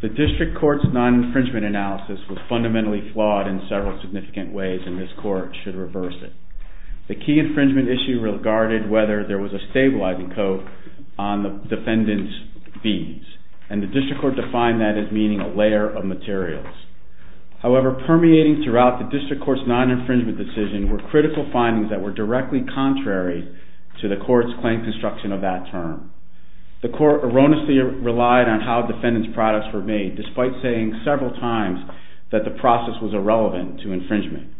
The District Court's non-infringement analysis was fundamentally flawed in several significant ways and this Court should reverse it. The key infringement issue regarded whether there was a stabilizing code on the defendant's fees and the District Court defined that as meaning a layer of materials. However, permeating throughout the District Court's non-infringement decision were critical findings that were directly contrary to the Court's claim construction of that term. The Court erroneously relied on how defendant's products were made despite saying several times that the process was irrelevant to infringement.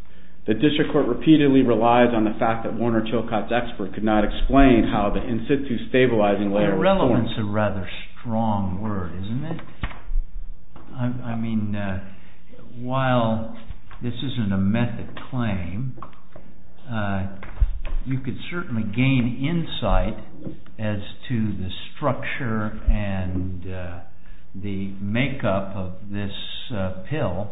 The District Court repeatedly relied on the fact that Warner Chilcott's expert could not explain how the in-situ stabilizing layer was formed. Irrelevance is a rather strong word, isn't it? I mean, while this isn't a method claim, you could certainly gain insight as to the structure and the makeup of this pill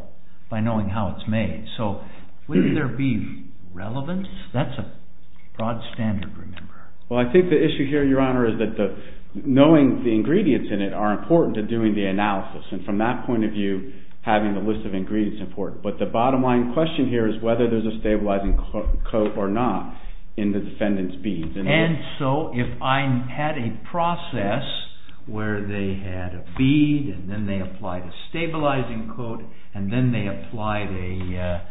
by knowing how it's made. So, wouldn't there be relevance? That's a broad standard, remember. Well, I think the issue here, Your Honor, is that knowing the ingredients in it are important to doing the analysis. And from that point of view, having the list of ingredients is important. But the bottom line question here is whether there's a stabilizing coat or not in the defendant's beads. And so, if I had a process where they had a bead and then they applied a stabilizing coat and then they applied a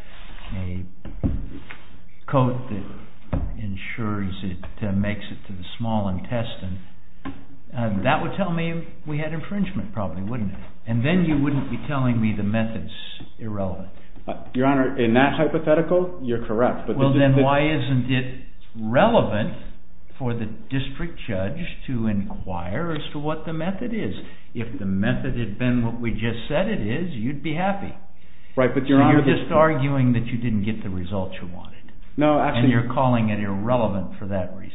coat that ensures it makes it to the small intestine, that would tell me we had infringement probably, wouldn't it? And then you wouldn't be telling me the method's irrelevant. Your Honor, in that hypothetical, you're correct. Well, then why isn't it relevant for the district judge to inquire as to what the method is? If the method had been what we just said it is, you'd be happy. Right, but Your Honor, you're just arguing that you didn't get the results you wanted. No, actually. And you're calling it irrelevant for that reason.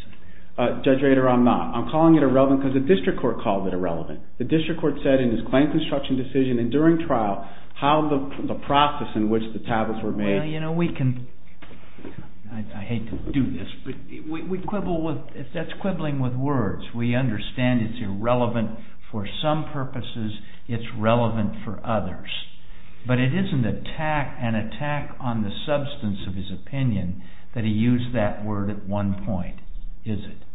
Judge Rader, I'm not. I'm calling it irrelevant because the district court called it irrelevant. The district court said in his claim construction decision and during trial how the process in which the tablets were made. Well, you know, we can, I hate to do this, but we quibble with, that's quibbling with words. We understand it's irrelevant for some purposes, it's relevant for others. But it isn't an attack on the substance of his opinion that he used that word at one point, is it?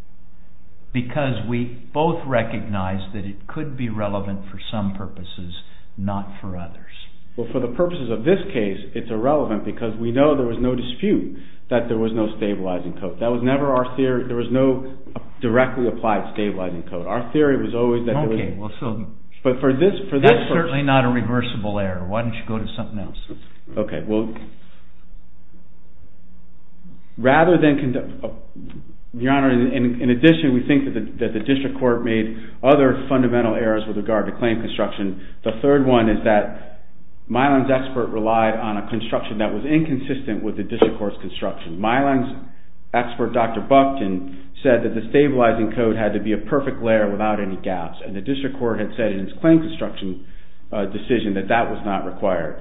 Because we both recognize that it could be relevant for some purposes, not for others. Well, for the purposes of this case, it's irrelevant because we know there was no dispute that there was no stabilizing coat. That was never our theory. There was no directly applied stabilizing coat. Our theory was always that there was. Okay, well, so. But for this, for this. That's certainly not a reversible error. Why don't you go to something else? Okay, well, rather than, Your Honor, in addition, we think that the district court made other fundamental errors with regard to claim construction. The third one is that Milan's expert relied on a construction that was inconsistent with the district court's construction. Milan's expert, Dr. Buckton, said that the stabilizing coat had to be a perfect layer without any gaps. And the district court had said in its claim construction decision that that was not required.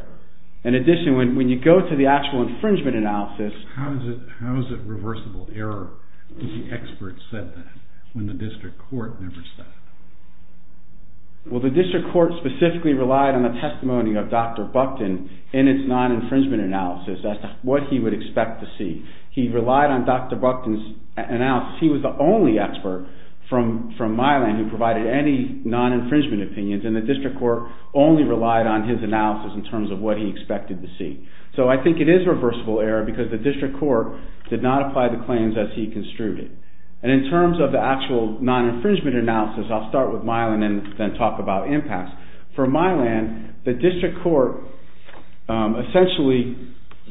In addition, when you go to the actual infringement analysis. How is it reversible error if the expert said that, when the district court never said it? Well, the district court specifically relied on the testimony of Dr. Buckton in its non-infringement analysis as to what he would expect to see. He relied on Dr. Buckton's analysis. He was the only expert from, from Milan who provided any non-infringement opinions. And the district court only relied on his analysis in terms of what he expected to see. So I think it is reversible error because the district court did not apply the claims as he construed it. And in terms of the actual non-infringement analysis, I'll start with Milan and then talk about impacts. For Milan, the district court essentially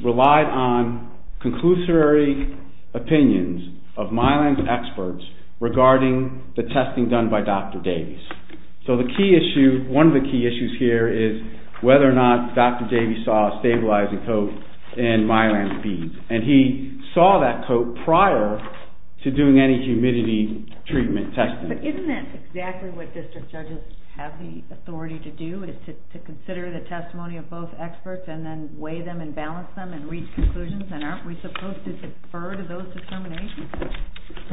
relied on conclusory opinions of Milan's experts regarding the testing done by Dr. Davies. So the key issue, one of the key issues here is whether or not Dr. Davies saw a stabilizing coat in Milan's beads. And he saw that coat prior to doing any humidity treatment testing. But isn't that exactly what district judges have the authority to do, is to consider the testimony of both experts and then weigh them and balance them and reach conclusions, and aren't we supposed to defer to those determinations?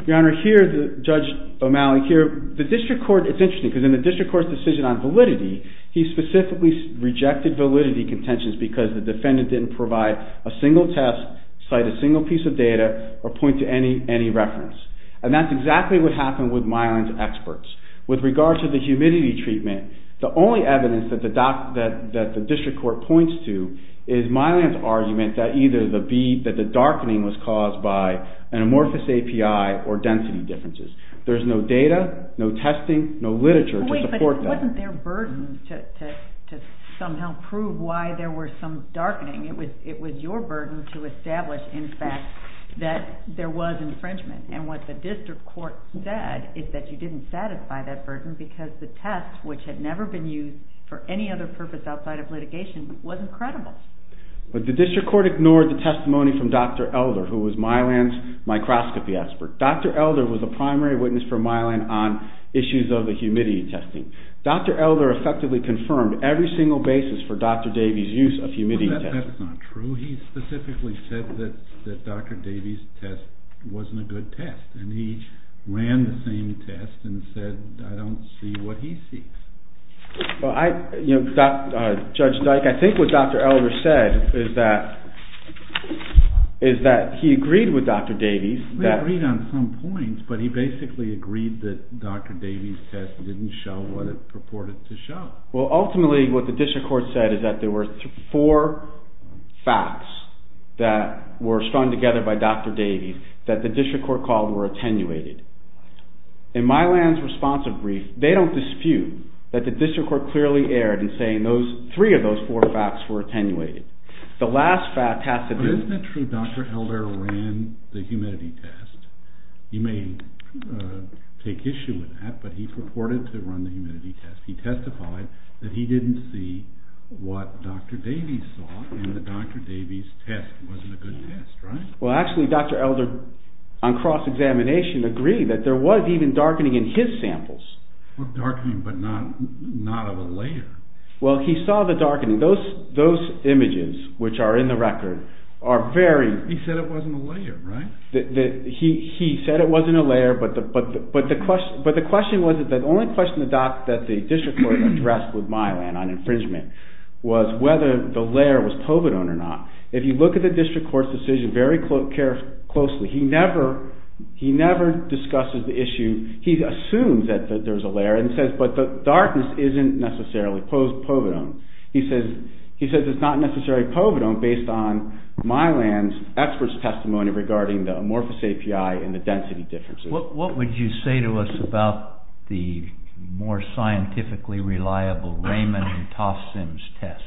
Your Honor, here, Judge O'Malley, here, the district court, it's interesting because in the district court's decision on validity, he specifically rejected validity contentions because the defendant didn't provide a single test, cite a single piece of data, or point to any, any reference. And that's exactly what happened with Milan's experts. With regard to the humidity treatment, the only evidence that the district court points to is Milan's argument that either the bead, that the darkening was caused by an amorphous API or density differences. There's no data, no testing, no literature to support that. Wait, but wasn't there a burden to somehow prove why there were some darkening? It was your burden to establish, in fact, that there was infringement. And what the district court said is that you didn't satisfy that burden because the test, which had never been used for any other purpose outside of litigation, wasn't credible. But the district court ignored the testimony from Dr. Elder, who was Milan's microscopy expert. Dr. Elder was a primary witness for Milan on issues of the humidity testing. Dr. Elder effectively confirmed every single basis for Dr. Davies' use of humidity testing. Well, that's not true. He specifically said that Dr. Davies' test wasn't a good test, and he ran the same test and said, I don't see what he sees. Well, I, you know, Judge Dyke, I think what Dr. Elder said is that he agreed with Dr. Davies. He agreed on some points, but he basically agreed that Dr. Davies' test didn't show what it purported to show. Well, ultimately, what the district court said is that there were four facts that were strung together by Dr. Davies that the district court called were attenuated. In Milan's responsive brief, they don't dispute that the district court clearly erred in saying those, three of those four facts were attenuated. The last fact has to be. But isn't it true Dr. Elder ran the humidity test? You may take issue with that, but he purported to run the humidity test. He testified that he didn't see what Dr. Davies saw in the Dr. Davies' test. It wasn't a good test, right? Well, actually, Dr. Elder, on cross-examination, agreed that there was even darkening in his samples. Darkening, but not of a layer. Well, he saw the darkening. Those images, which are in the record, are very. He said it wasn't a layer, right? He said it wasn't a layer, but the question was that the only question that the district court addressed with Milan on infringement was whether the layer was povidone or not. If you look at the district court's decision very closely, he never discusses the issue. He assumes that there's a layer and says, but the darkness isn't necessarily povidone. He says it's not necessarily povidone based on Milan's expert's testimony regarding the amorphous API and the density differences. What would you say to us about the more scientifically reliable Raymond and Tafsim's tests?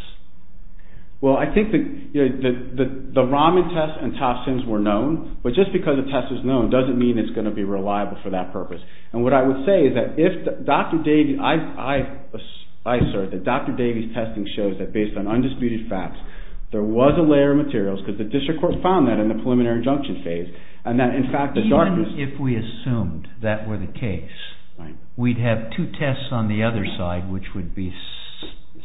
Well, I think that the Raman test and Tafsim's were known, but just because a test is known doesn't mean it's going to be reliable for that purpose. And what I would say is that if Dr. Davies, I assert that Dr. Davies' testing shows that based on undisputed facts, there was a layer of materials, because the district court found that in the preliminary injunction phase, and that in fact the darkness... Even if we assumed that were the case, we'd have two tests on the other side which would be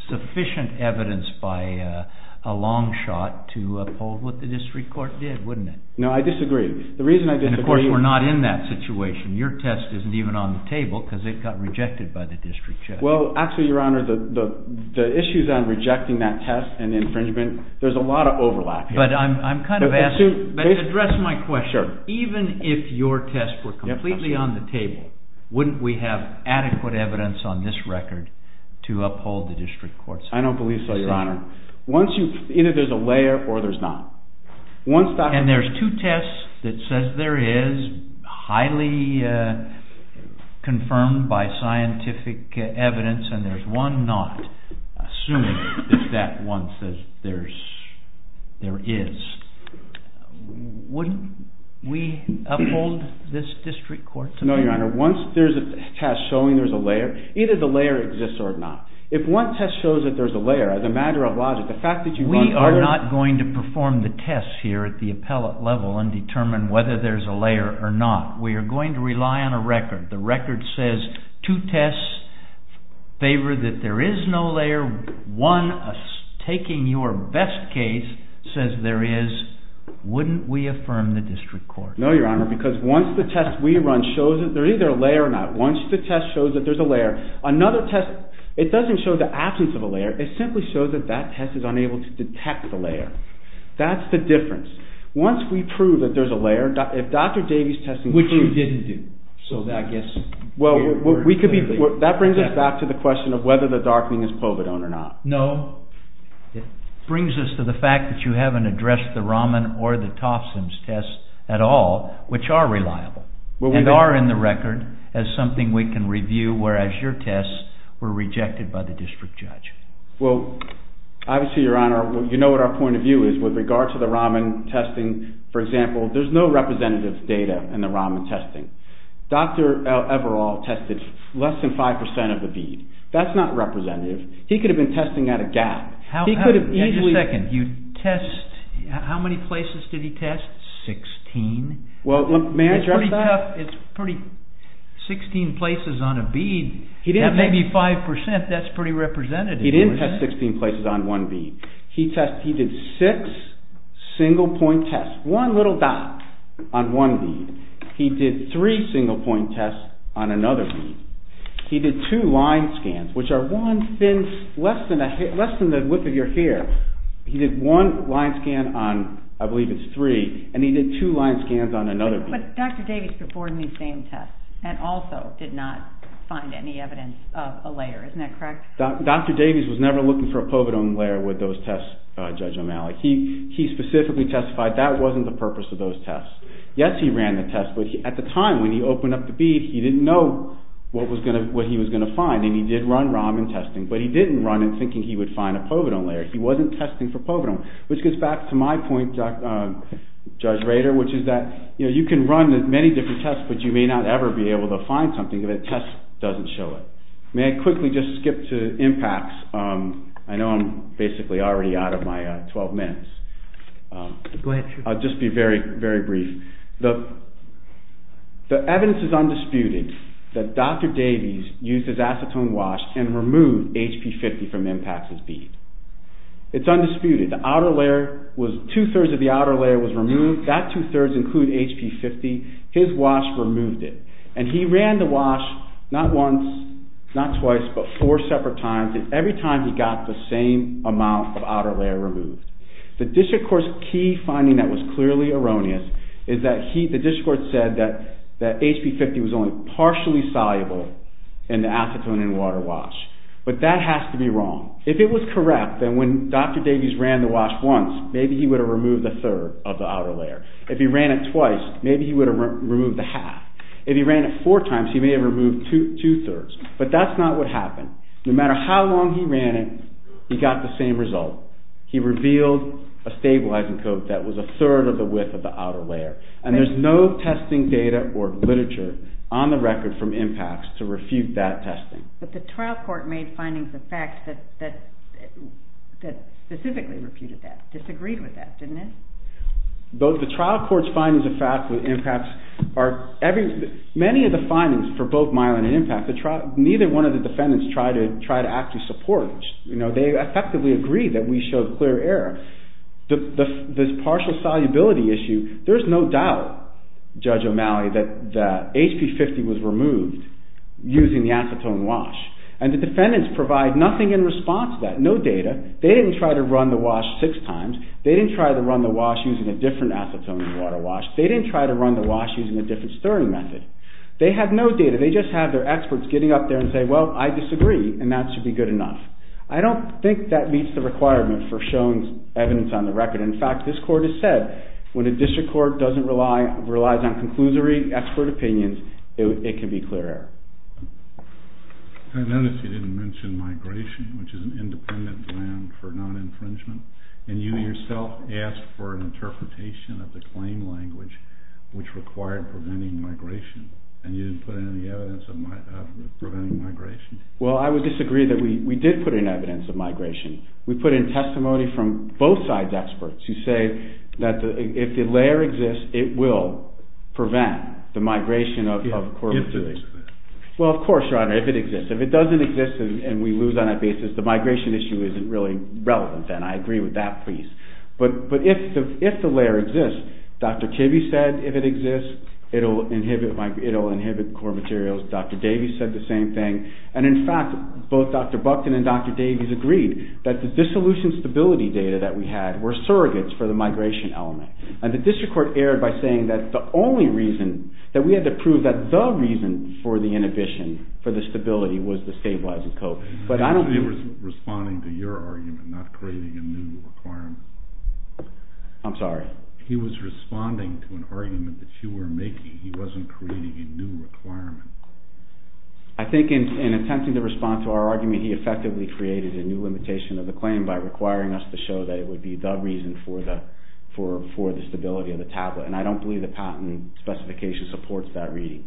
sufficient evidence by a long shot to uphold what the district court did, wouldn't it? No, I disagree. The reason I disagree... And of course, we're not in that situation. Your test isn't even on the table because it got rejected by the district judge. Well, actually, your honor, the issues on rejecting that test and infringement, there's a lot of overlap here. But to address my question, even if your test were completely on the table, wouldn't we have adequate evidence on this record to uphold the district court's... I don't believe so, your honor. Either there's a layer or there's not. And there's two tests that says there is highly confirmed by scientific evidence and there's one not, assuming that that one says there is. Wouldn't we uphold this district court's... No, your honor. Once there's a test showing there's a layer, either the layer exists or not. If one test shows that there's a layer, as a matter of logic, the fact that you... We are not going to perform the test here at the appellate level and determine whether there's a layer or not. We are going to rely on a record. The record says two tests favor that there is no layer. One, taking your best case, says there is. Wouldn't we affirm the district court? No, your honor, because once the test we run shows that there's either a layer or not, once the test shows that there's a layer, another test, it doesn't show the absence of a layer. It simply shows that that test is unable to detect the layer. That's the difference. Once we prove that there's a layer, if Dr. Davey's testing proves... Well, that brings us back to the question of whether the darkening is povidone or not. No. It brings us to the fact that you haven't addressed the Raman or the Tofsin's test at all, which are reliable and are in the record as something we can review, whereas your tests were rejected by the district judge. Well, obviously, your honor, you know what our point of view is. With regard to the Raman testing, for example, there's no representative data in the Raman testing. Dr. Everall tested less than 5% of a bead. That's not representative. He could have been testing at a gap. He could have easily... How many places did he test? Sixteen? Well, may I address that? It's pretty... Sixteen places on a bead, that may be 5%. That's pretty representative. He didn't test 16 places on one bead. He did six single-point tests, one little dot on one bead. He did three single-point tests on another bead. He did two line scans, which are one thin... less than the width of your hair. He did one line scan on, I believe it's three, and he did two line scans on another bead. But Dr. Davies performed these same tests and also did not find any evidence of a layer. Isn't that correct? Dr. Davies was never looking for a povidone layer with those tests, Judge O'Malley. He specifically testified that wasn't the purpose of those tests. Yes, he ran the test, but at the time, when he opened up the bead, he didn't know what he was going to find, and he did run Raman testing, but he didn't run it thinking he would find a povidone layer. He wasn't testing for povidone, which gets back to my point, Judge Rader, which is that, you know, you can run many different tests, but you may not ever be able to find something if a test doesn't show it. May I quickly just skip to impacts? I know I'm basically already out of my 12 minutes. I'll just be very, very brief. The evidence is undisputed that Dr. Davies used his acetone wash and removed HP50 from impacts as bead. It's undisputed. The outer layer was, two-thirds of the outer layer was removed. That two-thirds include HP50. His wash removed it, and he ran the wash not once, not twice, but four separate times, and every time he got the same amount of outer layer removed. The district court's key finding that was clearly erroneous is that he, the district court said that HP50 was only partially soluble in the acetone and water wash, but that has to be wrong. If it was correct, then when Dr. Davies ran the wash once, maybe he would have removed a third of the outer layer. If he ran it twice, maybe he would have removed a half. If he ran it four times, he may have removed two-thirds, but that's not what happened. No matter how long he ran it, he got the same result. He revealed a stabilizing coat that was a third of the width of the outer layer, and there's no testing data or literature on the record from impacts to refute that testing. But the trial court made findings of facts that specifically refuted that, disagreed with that, didn't it? Both the trial court's findings of facts with impacts are, many of the findings for both Myelin and Impact, neither one of the defendants tried to actually support it, you know. They effectively agreed that we showed clear error. The partial solubility issue, there's no doubt, Judge O'Malley, that the HP50 was removed using the acetone wash, and the defendants provide nothing in response to that, no data. They didn't try to run the wash six times. They didn't try to run the wash using a different acetone and water wash. They didn't try to run the wash using a different stirring method. They have no data. They just have their experts getting up there and say, well, I disagree, and that should be good enough. I don't think that meets the requirement for shown evidence on the record. In fact, this court has said, when a district court doesn't rely, relies on conclusory expert opinions, it can be clear error. I noticed you didn't mention migration, which is an independent plan for non-infringement, and you yourself asked for an interpretation of the claim language, which required preventing migration, and you didn't put any evidence of preventing migration. Well, I would disagree that we did put in evidence of migration. We put in testimony from both sides' experts who say that if the layer exists, it will prevent the migration of core materials. Well, of course, Your Honor, if it exists. If it doesn't exist, and we lose on that basis, the migration issue isn't really relevant, and I agree with that, please. But if the layer exists, Dr. Kibbe said if it exists, it'll inhibit core materials. Dr. Davies said the same thing, and in fact, both Dr. Buckton and Dr. Davies agreed that the dissolution stability data that we had were surrogates for the migration element, and the district court erred by saying that the only reason that we had to prove that the reason for the inhibition, for the stability, was the stabilizer code. But I don't think... He was responding to your argument, not creating a new requirement. I'm sorry? He was responding to an argument that you were making. He wasn't creating a new requirement. I think in attempting to respond to our argument, he effectively created a new limitation of the claim by requiring us to show that it would be the reason for the stability of the tablet, and I don't believe the patent specification supports that reading.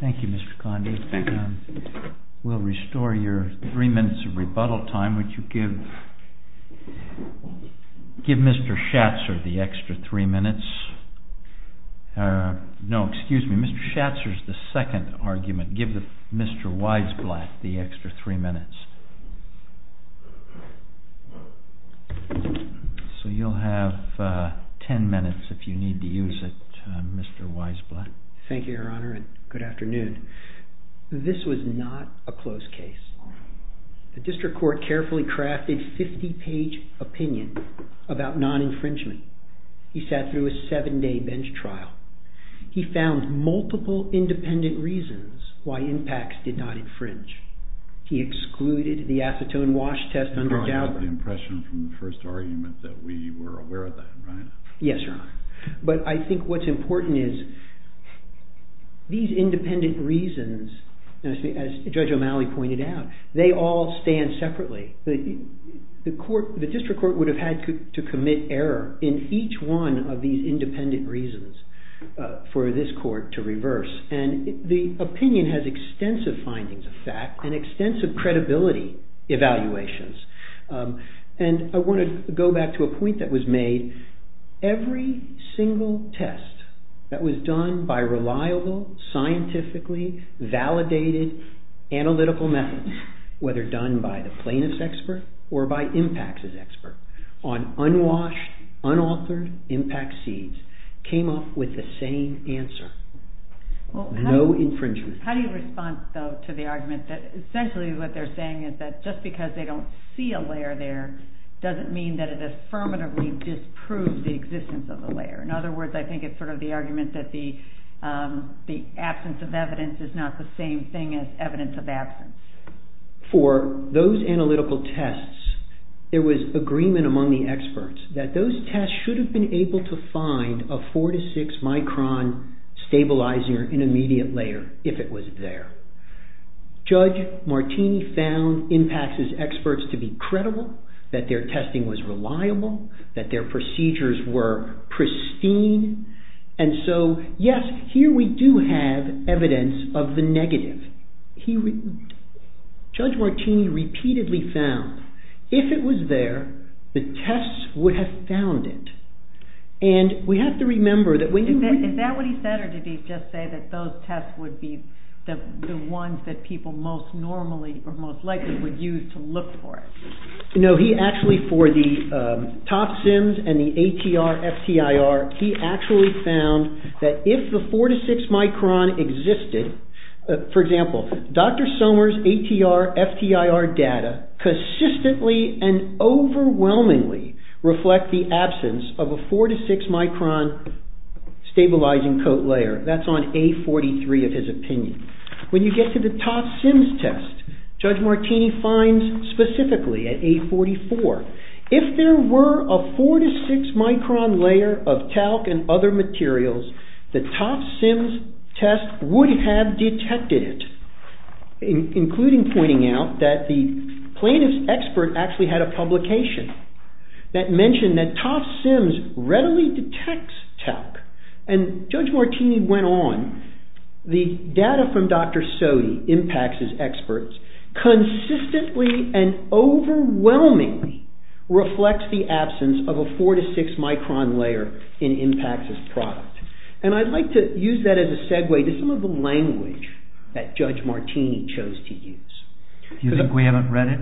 Thank you, Mr. Condi. Thank you. We'll restore your three minutes of rebuttal time. Would you give Mr. Schatzer the extra three minutes? No, excuse me. Mr. Schatzer's the second argument. Give Mr. Weisblatt the extra three minutes. So you'll have ten minutes if you need to use it, Mr. Weisblatt. Thank you, Your Honor, and good afternoon. This was not a closed case. The district court carefully crafted a 50-page opinion about non-infringement. He sat through a seven-day bench trial. He found multiple independent reasons why impacts did not infringe. He excluded the acetone wash test under Dauber. I got the impression from the first argument that we were aware of that, right? Yes, Your Honor, but I think what's important is these independent reasons, as Judge O'Malley pointed out, they all stand separately. The district court would have had to commit error in each one of these independent reasons for this court to reverse, and the opinion has extensive findings of fact and extensive credibility evaluations. And I want to go back to a point that was made. Every single test that was done by reliable, scientifically validated analytical methods, whether done by the plaintiff's expert or by impacts' expert, on unwashed, unauthored impact seeds, came up with the same answer, no infringement. How do you respond, though, to the argument that essentially what they're saying is that just because they don't see a layer there doesn't mean that it affirmatively disproves the existence of the layer? In other words, I think it's sort of the argument that the absence of evidence is not the same thing as evidence of absence. For those analytical tests, there was agreement among the experts that those tests should have been able to find a four to six micron stabilizer in immediate layer if it was there. Judge Martini found impacts' experts to be credible, that their testing was reliable, that their procedures were pristine, and so, yes, here we do have evidence of the negative. Judge Martini repeatedly found, if it was there, the tests would have found it. And we have to remember that when you... Is that what he said or did he just say that those tests would be the ones that people most normally or most likely would use to look for it? No, he actually, for the top SIMs and the ATR, FTIR, he actually found that if the four to six micron existed, for example, Dr. Sommer's ATR, FTIR data consistently and overwhelmingly reflect the absence of a four to six micron stabilizing coat layer. That's on A43 of his opinion. When you get to the top SIMs test, Judge Martini finds specifically at A44, if there were a four to six micron layer of talc and other materials, the top SIMs test would have detected it, including pointing out that the plaintiff's expert actually had a publication that mentioned that top SIMs readily detects talc. And Judge Martini went on, the data from Dr. Sodi, impacts' experts, consistently and overwhelmingly reflects the absence of a four to six micron layer in impacts' product. And I'd like to use that as a segue to some of the language that Judge Martini chose to use. Do you think we haven't read it?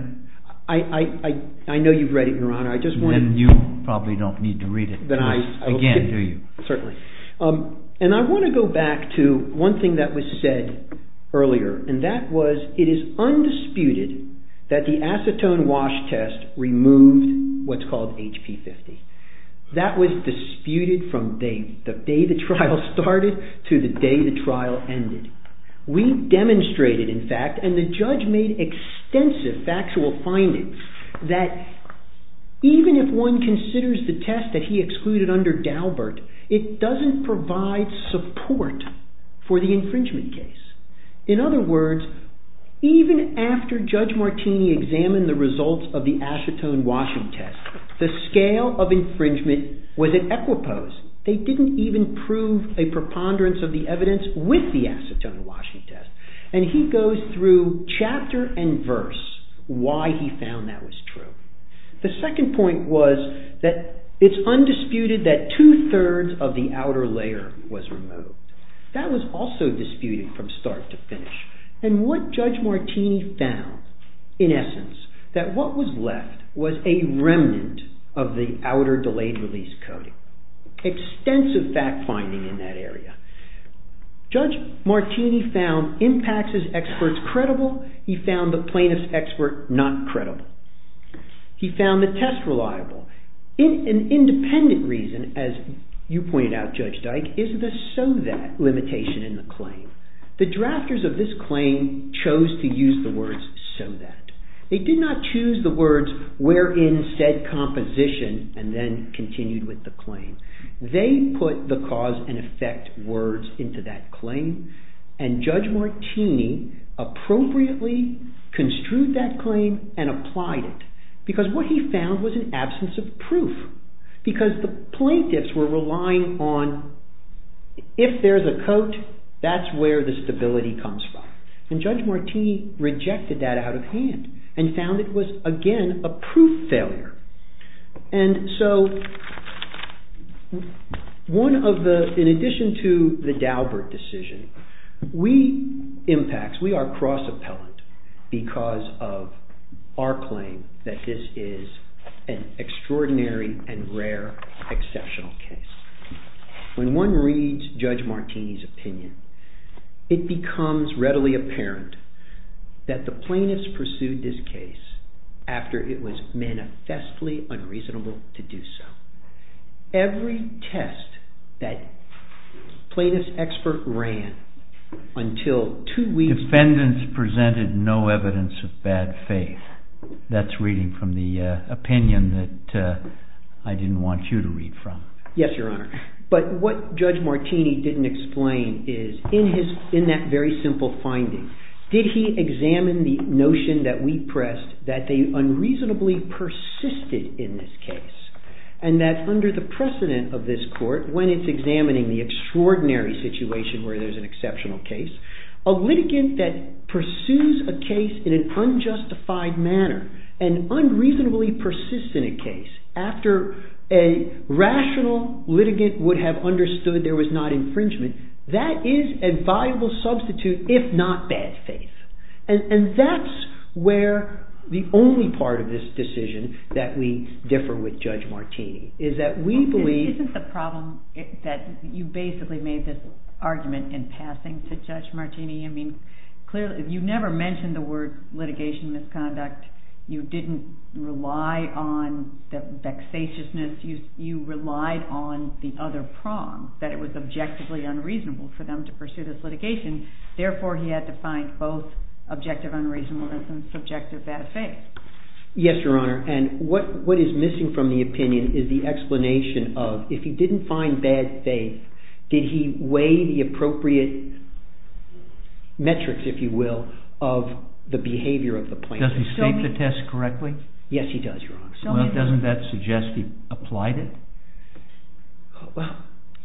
I know you've read it, Your Honor. I just want to... Then you probably don't need to read it again, do you? Certainly. And I want to go back to one thing that was said earlier, and that was it is undisputed that the acetone wash test removed what's called HP50. That was disputed from the day the trial started to the day the trial ended. We demonstrated, in fact, and the judge made extensive factual findings that even if one considers the test that he excluded under Daubert, it doesn't provide support for the infringement case. In other words, even after Judge Martini examined the results of the acetone washing test, the scale of infringement was at equipose. They didn't even prove a preponderance of the evidence with the acetone washing test. And he goes through chapter and verse why he found that was true. The second point was that it's undisputed that two-thirds of the outer layer was removed. And what Judge Martini found, in essence, that what was left was a remnant of the outer delayed release coating. Extensive fact finding in that area. Judge Martini found impacts as experts credible. He found the plaintiff's expert not credible. He found the test reliable. An independent reason, as you pointed out, Judge Dyke, is the so that limitation in the claim. The drafters of this claim chose to use the words so that. They did not choose the words wherein said composition and then continued with the claim. They put the cause and effect words into that claim. And Judge Martini appropriately construed that claim and applied it. Because the plaintiffs were relying on if there's a coat, that's where the stability comes from. And Judge Martini rejected that out of hand and found it was, again, a proof failure. And so one of the, in addition to the Daubert decision, we impacts, we are cross-appellant because of our claim that this is an extraordinary and rare exceptional case. When one reads Judge Martini's opinion, it becomes readily apparent that the plaintiffs pursued this case after it was manifestly unreasonable to do so. Every test that plaintiff's expert ran until two weeks. Defendants presented no evidence of bad faith. That's reading from the opinion that I didn't want you to read from. Yes, Your Honor. But what Judge Martini didn't explain is in that very simple finding, did he examine the notion that we pressed that they unreasonably persisted in this case. And that under the precedent of this court, when it's examining the extraordinary situation where there's an exceptional case, a litigant that pursues a case in an unjustified manner and unreasonably persists in a case after a rational litigant would have understood there was not infringement, that is a viable substitute if not bad faith. And that's where the only part of this decision that we differ with Judge Martini is that we believe... Isn't the problem that you basically made this argument in passing to Judge Martini? I mean, clearly, you never mentioned the word litigation misconduct. You didn't rely on the vexatiousness. You relied on the other prong, that it was objectively unreasonable for them to pursue this litigation. Therefore, he had to find both objective unreasonableness and subjective bad faith. Yes, Your Honor. And what is missing from the opinion is the explanation of, if he didn't find bad faith, did he weigh the appropriate metrics, if you will, of the behavior of the plaintiff? Does he state the test correctly? Yes, he does, Your Honor. Doesn't that suggest he applied it?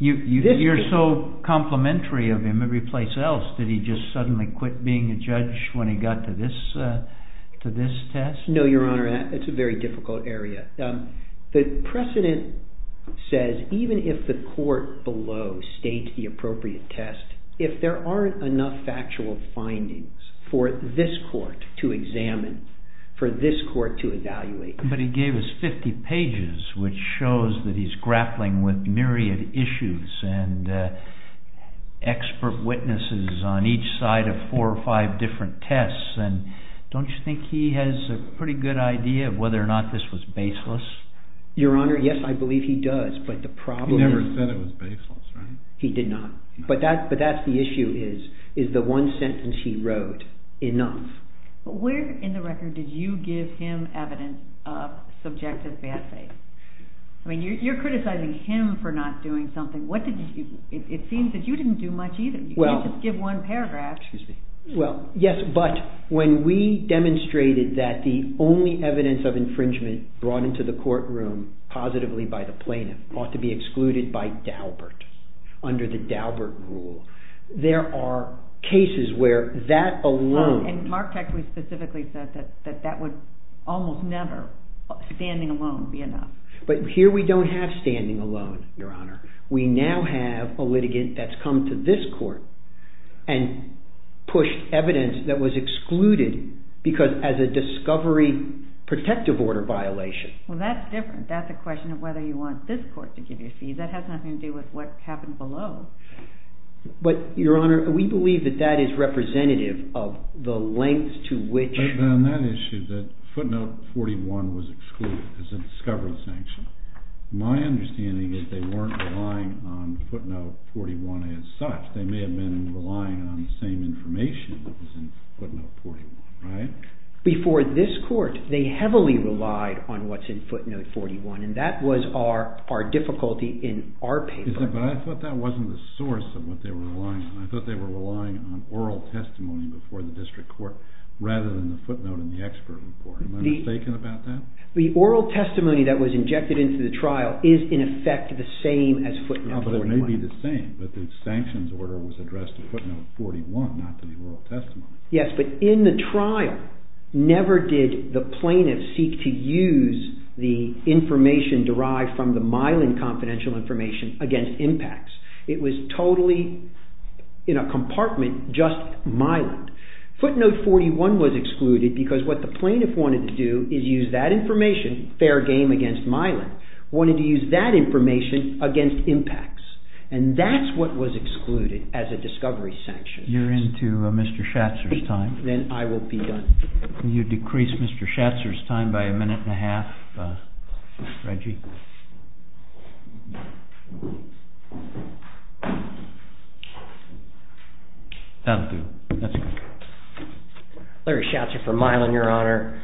You're so complimentary of him every place else. Did he just suddenly quit being a judge when he got to this test? No, Your Honor, it's a very difficult area. The precedent says, even if the court below states the appropriate test, if there aren't enough factual findings for this court to examine, for this court to evaluate... But he gave us 50 pages, which shows that he's grappling with myriad issues and expert witnesses on each side of four or five different tests. And don't you think he has a pretty good idea of whether or not this was baseless? Your Honor, yes, I believe he does. But the problem is... He never said it was baseless, right? He did not. But that's the issue is, is the one sentence he wrote enough? Where in the record did you give him evidence of subjective bad faith? I mean, you're criticizing him for not doing something. What did you... It seems that you didn't do much either. You didn't just give one paragraph. Excuse me. Well, yes, but when we demonstrated that the only evidence of infringement brought into the courtroom positively by the plaintiff ought to be excluded by Daubert, under the Daubert rule, there are cases where that alone... And Mark actually specifically said that that would almost never, standing alone, be enough. But here we don't have standing alone, Your Honor. We now have a litigant that's come to this court and pushed evidence that was excluded because as a discovery protective order violation. Well, that's different. That's a question of whether you want this court to give you a cease. That has nothing to do with what happened below. But, Your Honor, we believe that that is representative of the length to which... But on that issue, that footnote 41 was excluded because it's a discovery sanction. My understanding is they weren't relying on footnote 41 as such. They may have been relying on the same information that was in footnote 41, right? Before this court, they heavily relied on what's in footnote 41, and that was our difficulty in our paper. But I thought that wasn't the source of what they were relying on. I thought they were relying on oral testimony before the district court rather than the footnote in the expert report. Am I mistaken about that? The oral testimony that was injected into the trial is, in effect, the same as footnote 41. No, but it may be the same, but the sanctions order was addressed to footnote 41, not to the oral testimony. Yes, but in the trial, never did the plaintiff seek to use the information derived from the Mylan confidential information against impacts. It was totally, in a compartment, just Mylan. Footnote 41 was excluded because what the plaintiff wanted to do is use that information, fair game against Mylan, wanted to use that information against impacts, and that's what was excluded as a discovery sanction. You're into Mr. Schatzer's time. Then I will be done. Can you decrease Mr. Schatzer's time by a minute and a half, Reggie? That'll do, that's good. Larry Schatzer for Mylan, Your Honor.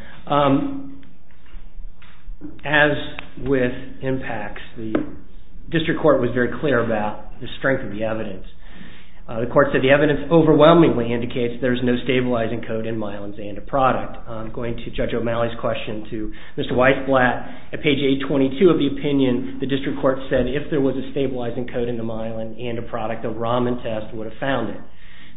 As with impacts, the district court was very clear about the strength of the evidence. The court said the evidence overwhelmingly indicates there's no stabilizing code in Mylan's ANDA product. Going to Judge O'Malley's question to Mr. Weissblatt, at page 822 of the opinion, the district court said if there was a stabilizing code in the Mylan ANDA product, the Raman test would have found it.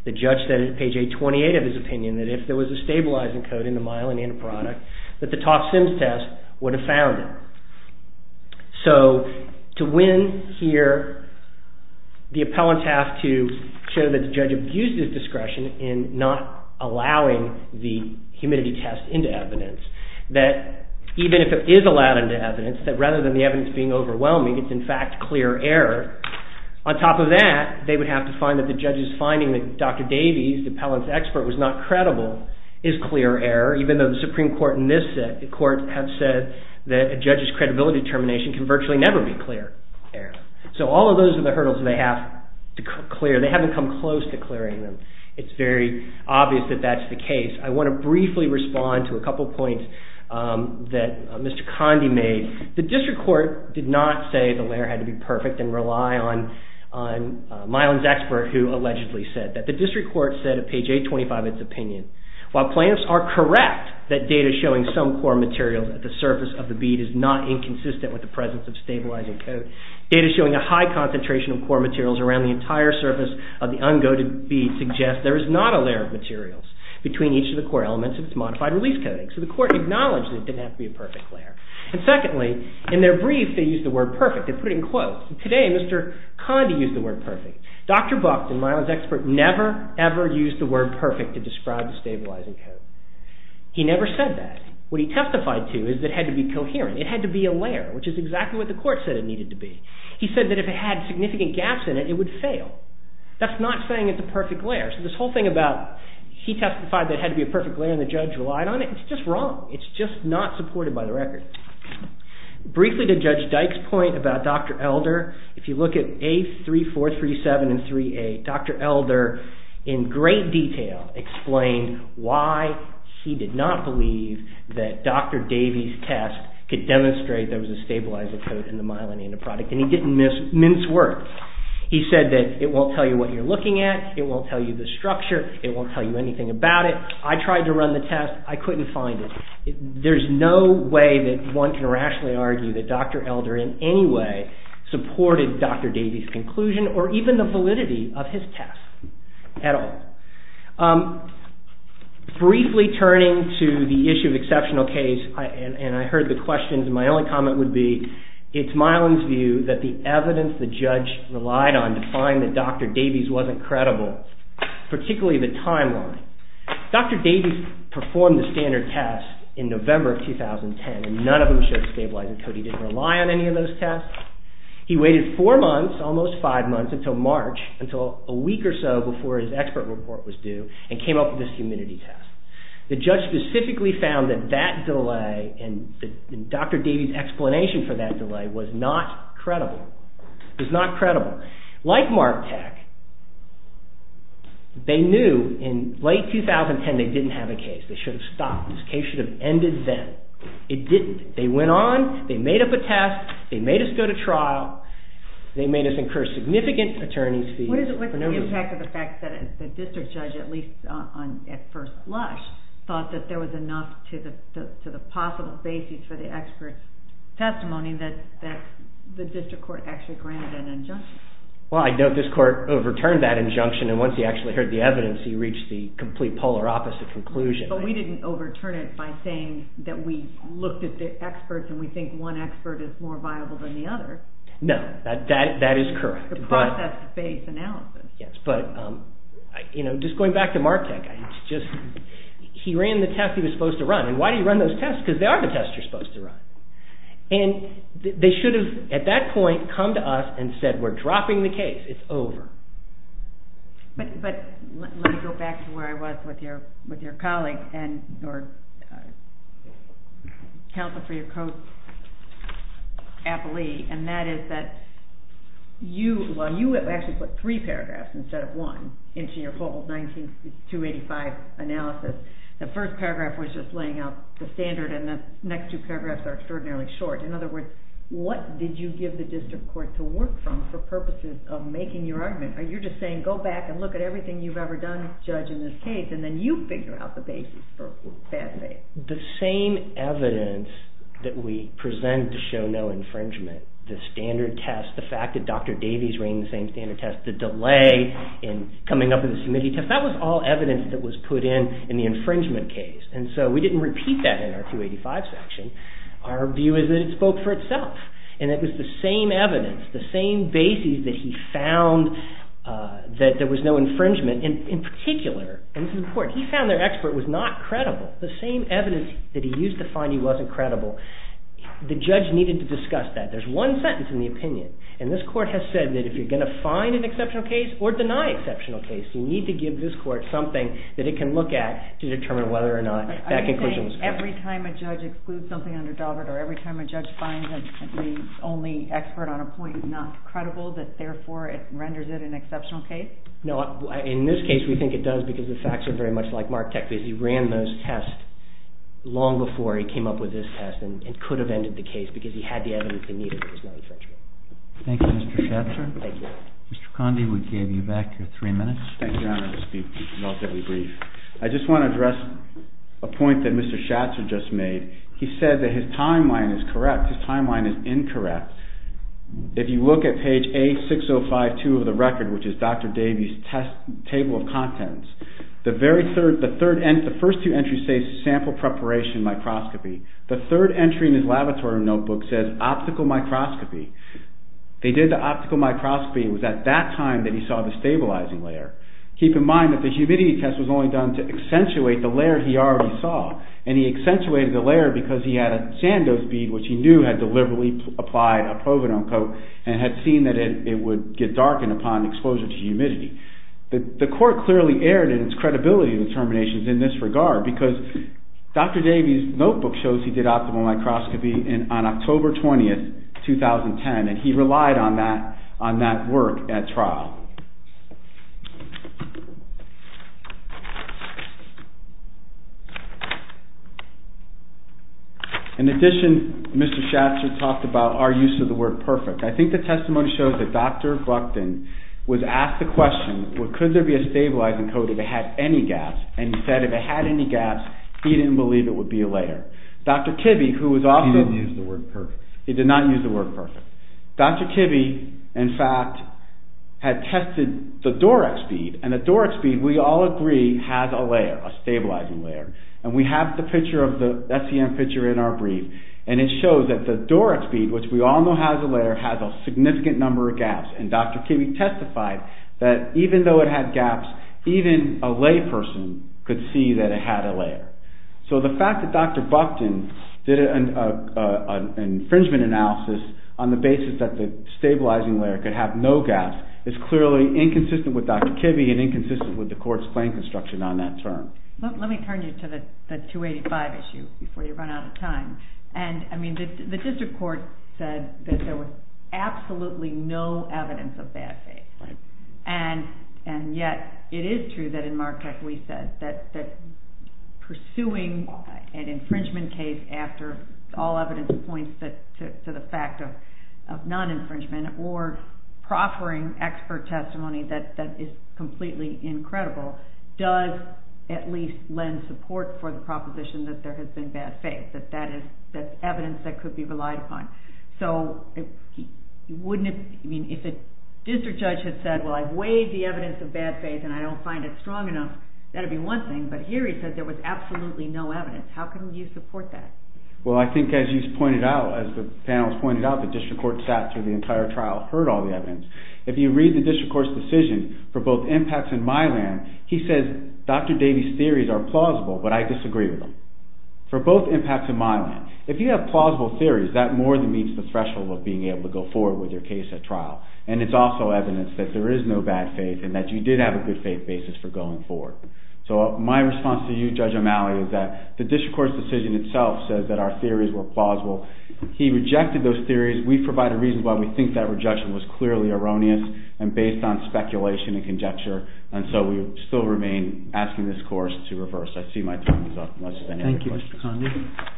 The judge said at page 828 of his opinion that if there was a stabilizing code in the Mylan ANDA product, that the toxin test would have found it. So to win here, the appellants have to show that the judge abused his discretion in not allowing the humidity test into evidence. That even if it is allowed into evidence, that rather than the evidence being overwhelming, it's in fact clear error. On top of that, they would have to find that the judge's finding that Dr. Davies, the appellant's expert, was not credible is clear error, even though the Supreme Court in this court have said that a judge's credibility determination can virtually never be clear error. So all of those are the hurdles they have to clear. They haven't come close to clearing them. It's very obvious that that's the case. I want to briefly respond to a couple of points that Mr. Conde made. The district court did not say the layer had to be perfect and rely on Mylan's expert who allegedly said that the district court said at page 825 of its opinion, while plans are correct that data showing some core material at the surface of the bead is not inconsistent with the presence of stabilizing code, data showing a high concentration of core materials around the entire surface of the uncoated bead suggests there is not a layer of materials between each of the core elements of its modified release coding. So the court acknowledged that it didn't have to be a perfect layer. And secondly, in their brief, they used the word perfect. They put it in quotes. And today, Mr. Conde used the word perfect. Dr. Buck, the Mylan's expert, never ever used the word perfect to describe the stabilizing code. He never said that. What he testified to is that it had to be coherent. It had to be a layer, which is exactly what the court said it needed to be. He said that if it had significant gaps in it, it would fail. That's not saying it's a perfect layer. So this whole thing about he testified that it had to be a perfect layer and the judge relied on it, it's just wrong. It's just not supported by the record. Briefly to Judge Dyke's point about Dr. Elder, if you look at A3437 and 38, Dr. Elder in great detail explained why he did not believe that Dr. Davies' test could demonstrate there was a stabilizing code in the Mylan and in the product, and he didn't mince words. He said that it won't tell you what you're looking at, it won't tell you the structure, it won't tell you anything about it. I tried to run the test. I couldn't find it. There's no way that one can rationally argue that Dr. Elder in any way supported Dr. Davies' conclusion or even the validity of his test at all. Briefly turning to the issue of exceptional case, and I heard the questions, my only comment would be it's Mylan's view that the evidence the judge relied on to find that Dr. Davies' wasn't credible, particularly the timeline. Dr. Davies' performed the standard test in November of 2010 and none of them showed a stabilizing code. He didn't rely on any of those tests. He waited four months, almost five months, until March, until a week or so before his expert report was due and came up with this humidity test. The judge specifically found that that delay and Dr. Davies' explanation for that delay was not credible, was not credible. Like MARTEC, they knew in late 2010 they didn't have a case. They should have stopped. This case should have ended then. It didn't. They went on, they made up a test, they made us go to trial, they made us incur significant attorney's fees. What's the impact of the fact that the district judge, at least at first lush, thought that there was enough to the possible basis for the expert's testimony that the district court actually granted an injunction? Well, I note this court overturned that injunction and once he actually heard the evidence he reached the complete polar opposite conclusion. But we didn't overturn it by saying that we looked at the experts and we think one expert is more viable than the other. No, that is correct. It's a process-based analysis. Yes, but just going back to MARTEC, he ran the test he was supposed to run. And why do you run those tests? Because they are the tests you're supposed to run. And they should have, at that point, come to us and said, we're dropping the case, it's over. But let me go back to where I was with your colleague and your counsel for your co-appellee. And that is that you, well, you actually put three paragraphs instead of one into your full 1985 analysis. The first paragraph was just laying out the standard and the next two paragraphs are extraordinarily short. In other words, what did you give the district court to work from for purposes of making your argument? Are you just saying, go back and look at everything you've ever done, judge, in this case, and then you figure out the basis for bad faith? The same evidence that we present to show no infringement, the standard test, the fact that Dr. Davies ran the same standard test, the delay in coming up with a committee test, that was all evidence that was put in in the infringement case. And so we didn't repeat that in our 285 section. Our view is that it spoke for itself. And it was the same evidence, the same basis that he found that there was no infringement in particular, and this is important. He found their expert was not credible. The same evidence that he used to find he wasn't credible, the judge needed to discuss that. There's one sentence in the opinion, and this court has said that if you're going to find an exceptional case or deny exceptional case, you need to give this court something that it can look at to determine whether or not that conclusion was correct. Every time a judge excludes something under Daubert or every time a judge finds that the only expert on a point is not credible that, therefore, it renders it an exceptional case? No, in this case, we think it does because the facts are very much like Mark Teckley's. He ran those tests long before he came up with this test and could have ended the case because he had the evidence he needed that there was no infringement. Thank you, Mr. Schatzer. Thank you. Mr. Conde, we gave you back your three minutes. Thank you, Your Honor, for speaking relatively brief. I just want to address a point that Mr. Schatzer just made. He said that his timeline is correct. His timeline is incorrect. If you look at page A6052 of the record, which is Dr. Davey's test table of contents, the first two entries say sample preparation microscopy. The third entry in his laboratory notebook says optical microscopy. They did the optical microscopy. It was at that time that he saw the stabilizing layer. Keep in mind that the humidity test was only done to accentuate the layer he already saw, and he accentuated the layer because he had a sand-dose bead, which he knew had deliberately applied a provenone coat and had seen that it would get darkened upon exposure to humidity. The court clearly erred in its credibility determinations in this regard because Dr. Davey's notebook shows he did optical microscopy on October 20, 2010, and he relied on that work at trial. In addition, Mr. Schatzer talked about our use of the word perfect. I think the testimony shows that Dr. Buckton was asked the question, could there be a stabilizing coat if it had any gaps, and he said if it had any gaps, he didn't believe it would be a layer. Dr. Kibbe, who was also... He didn't use the word perfect. He did not use the word perfect. Dr. Kibbe, in fact, had tested the Dorex bead, and the Dorex bead, we all agree, has a layer, a stabilizing layer, and we have the picture of the SEM picture in our brief, and it shows that the Dorex bead, which we all know has a layer, has a significant number of gaps, and Dr. Kibbe testified that even though it had gaps, even a layperson could see that it had a layer. So the fact that Dr. Buckton did an infringement analysis on the basis that the stabilizing layer could have no gaps is clearly inconsistent with Dr. Kibbe and inconsistent with the court's claim construction on that term. Let me turn you to the 285 issue before you run out of time, and I mean, the district court said that there was absolutely no evidence of bad faith, and yet it is true that in Marquette, we said that pursuing an infringement case after all evidence points to the fact of non-infringement or proffering expert testimony that is completely incredible does at least lend support for the proposition that there has been bad faith, that that is evidence that could be relied upon. So wouldn't it, I mean, if a district judge had said, well, I've weighed the evidence of bad faith, and I don't find it strong enough, that would be one thing, but here he said there was absolutely no evidence. How can you support that? Well, I think as you pointed out, as the panel has pointed out, the district court sat through the entire trial, heard all the evidence. If you read the district court's decision for both impacts and my land, he says Dr. Davies' theories are plausible, but I disagree with him. For both impacts and my land, if you have plausible theories, that more than meets the threshold of being able to go forward with your case at trial, and it's also evidence that there is no bad faith and that you did have a good faith basis for going forward. So my response to you, Judge O'Malley, is that the district court's decision itself says that our theories were plausible. He rejected those theories. We provide a reason why we think that rejection was clearly erroneous and based on speculation and conjecture, and so we still remain asking this course to reverse. I see my time is up, unless there are any other questions. Thank you, Mr. Condon. That concludes our proceedings. All rise.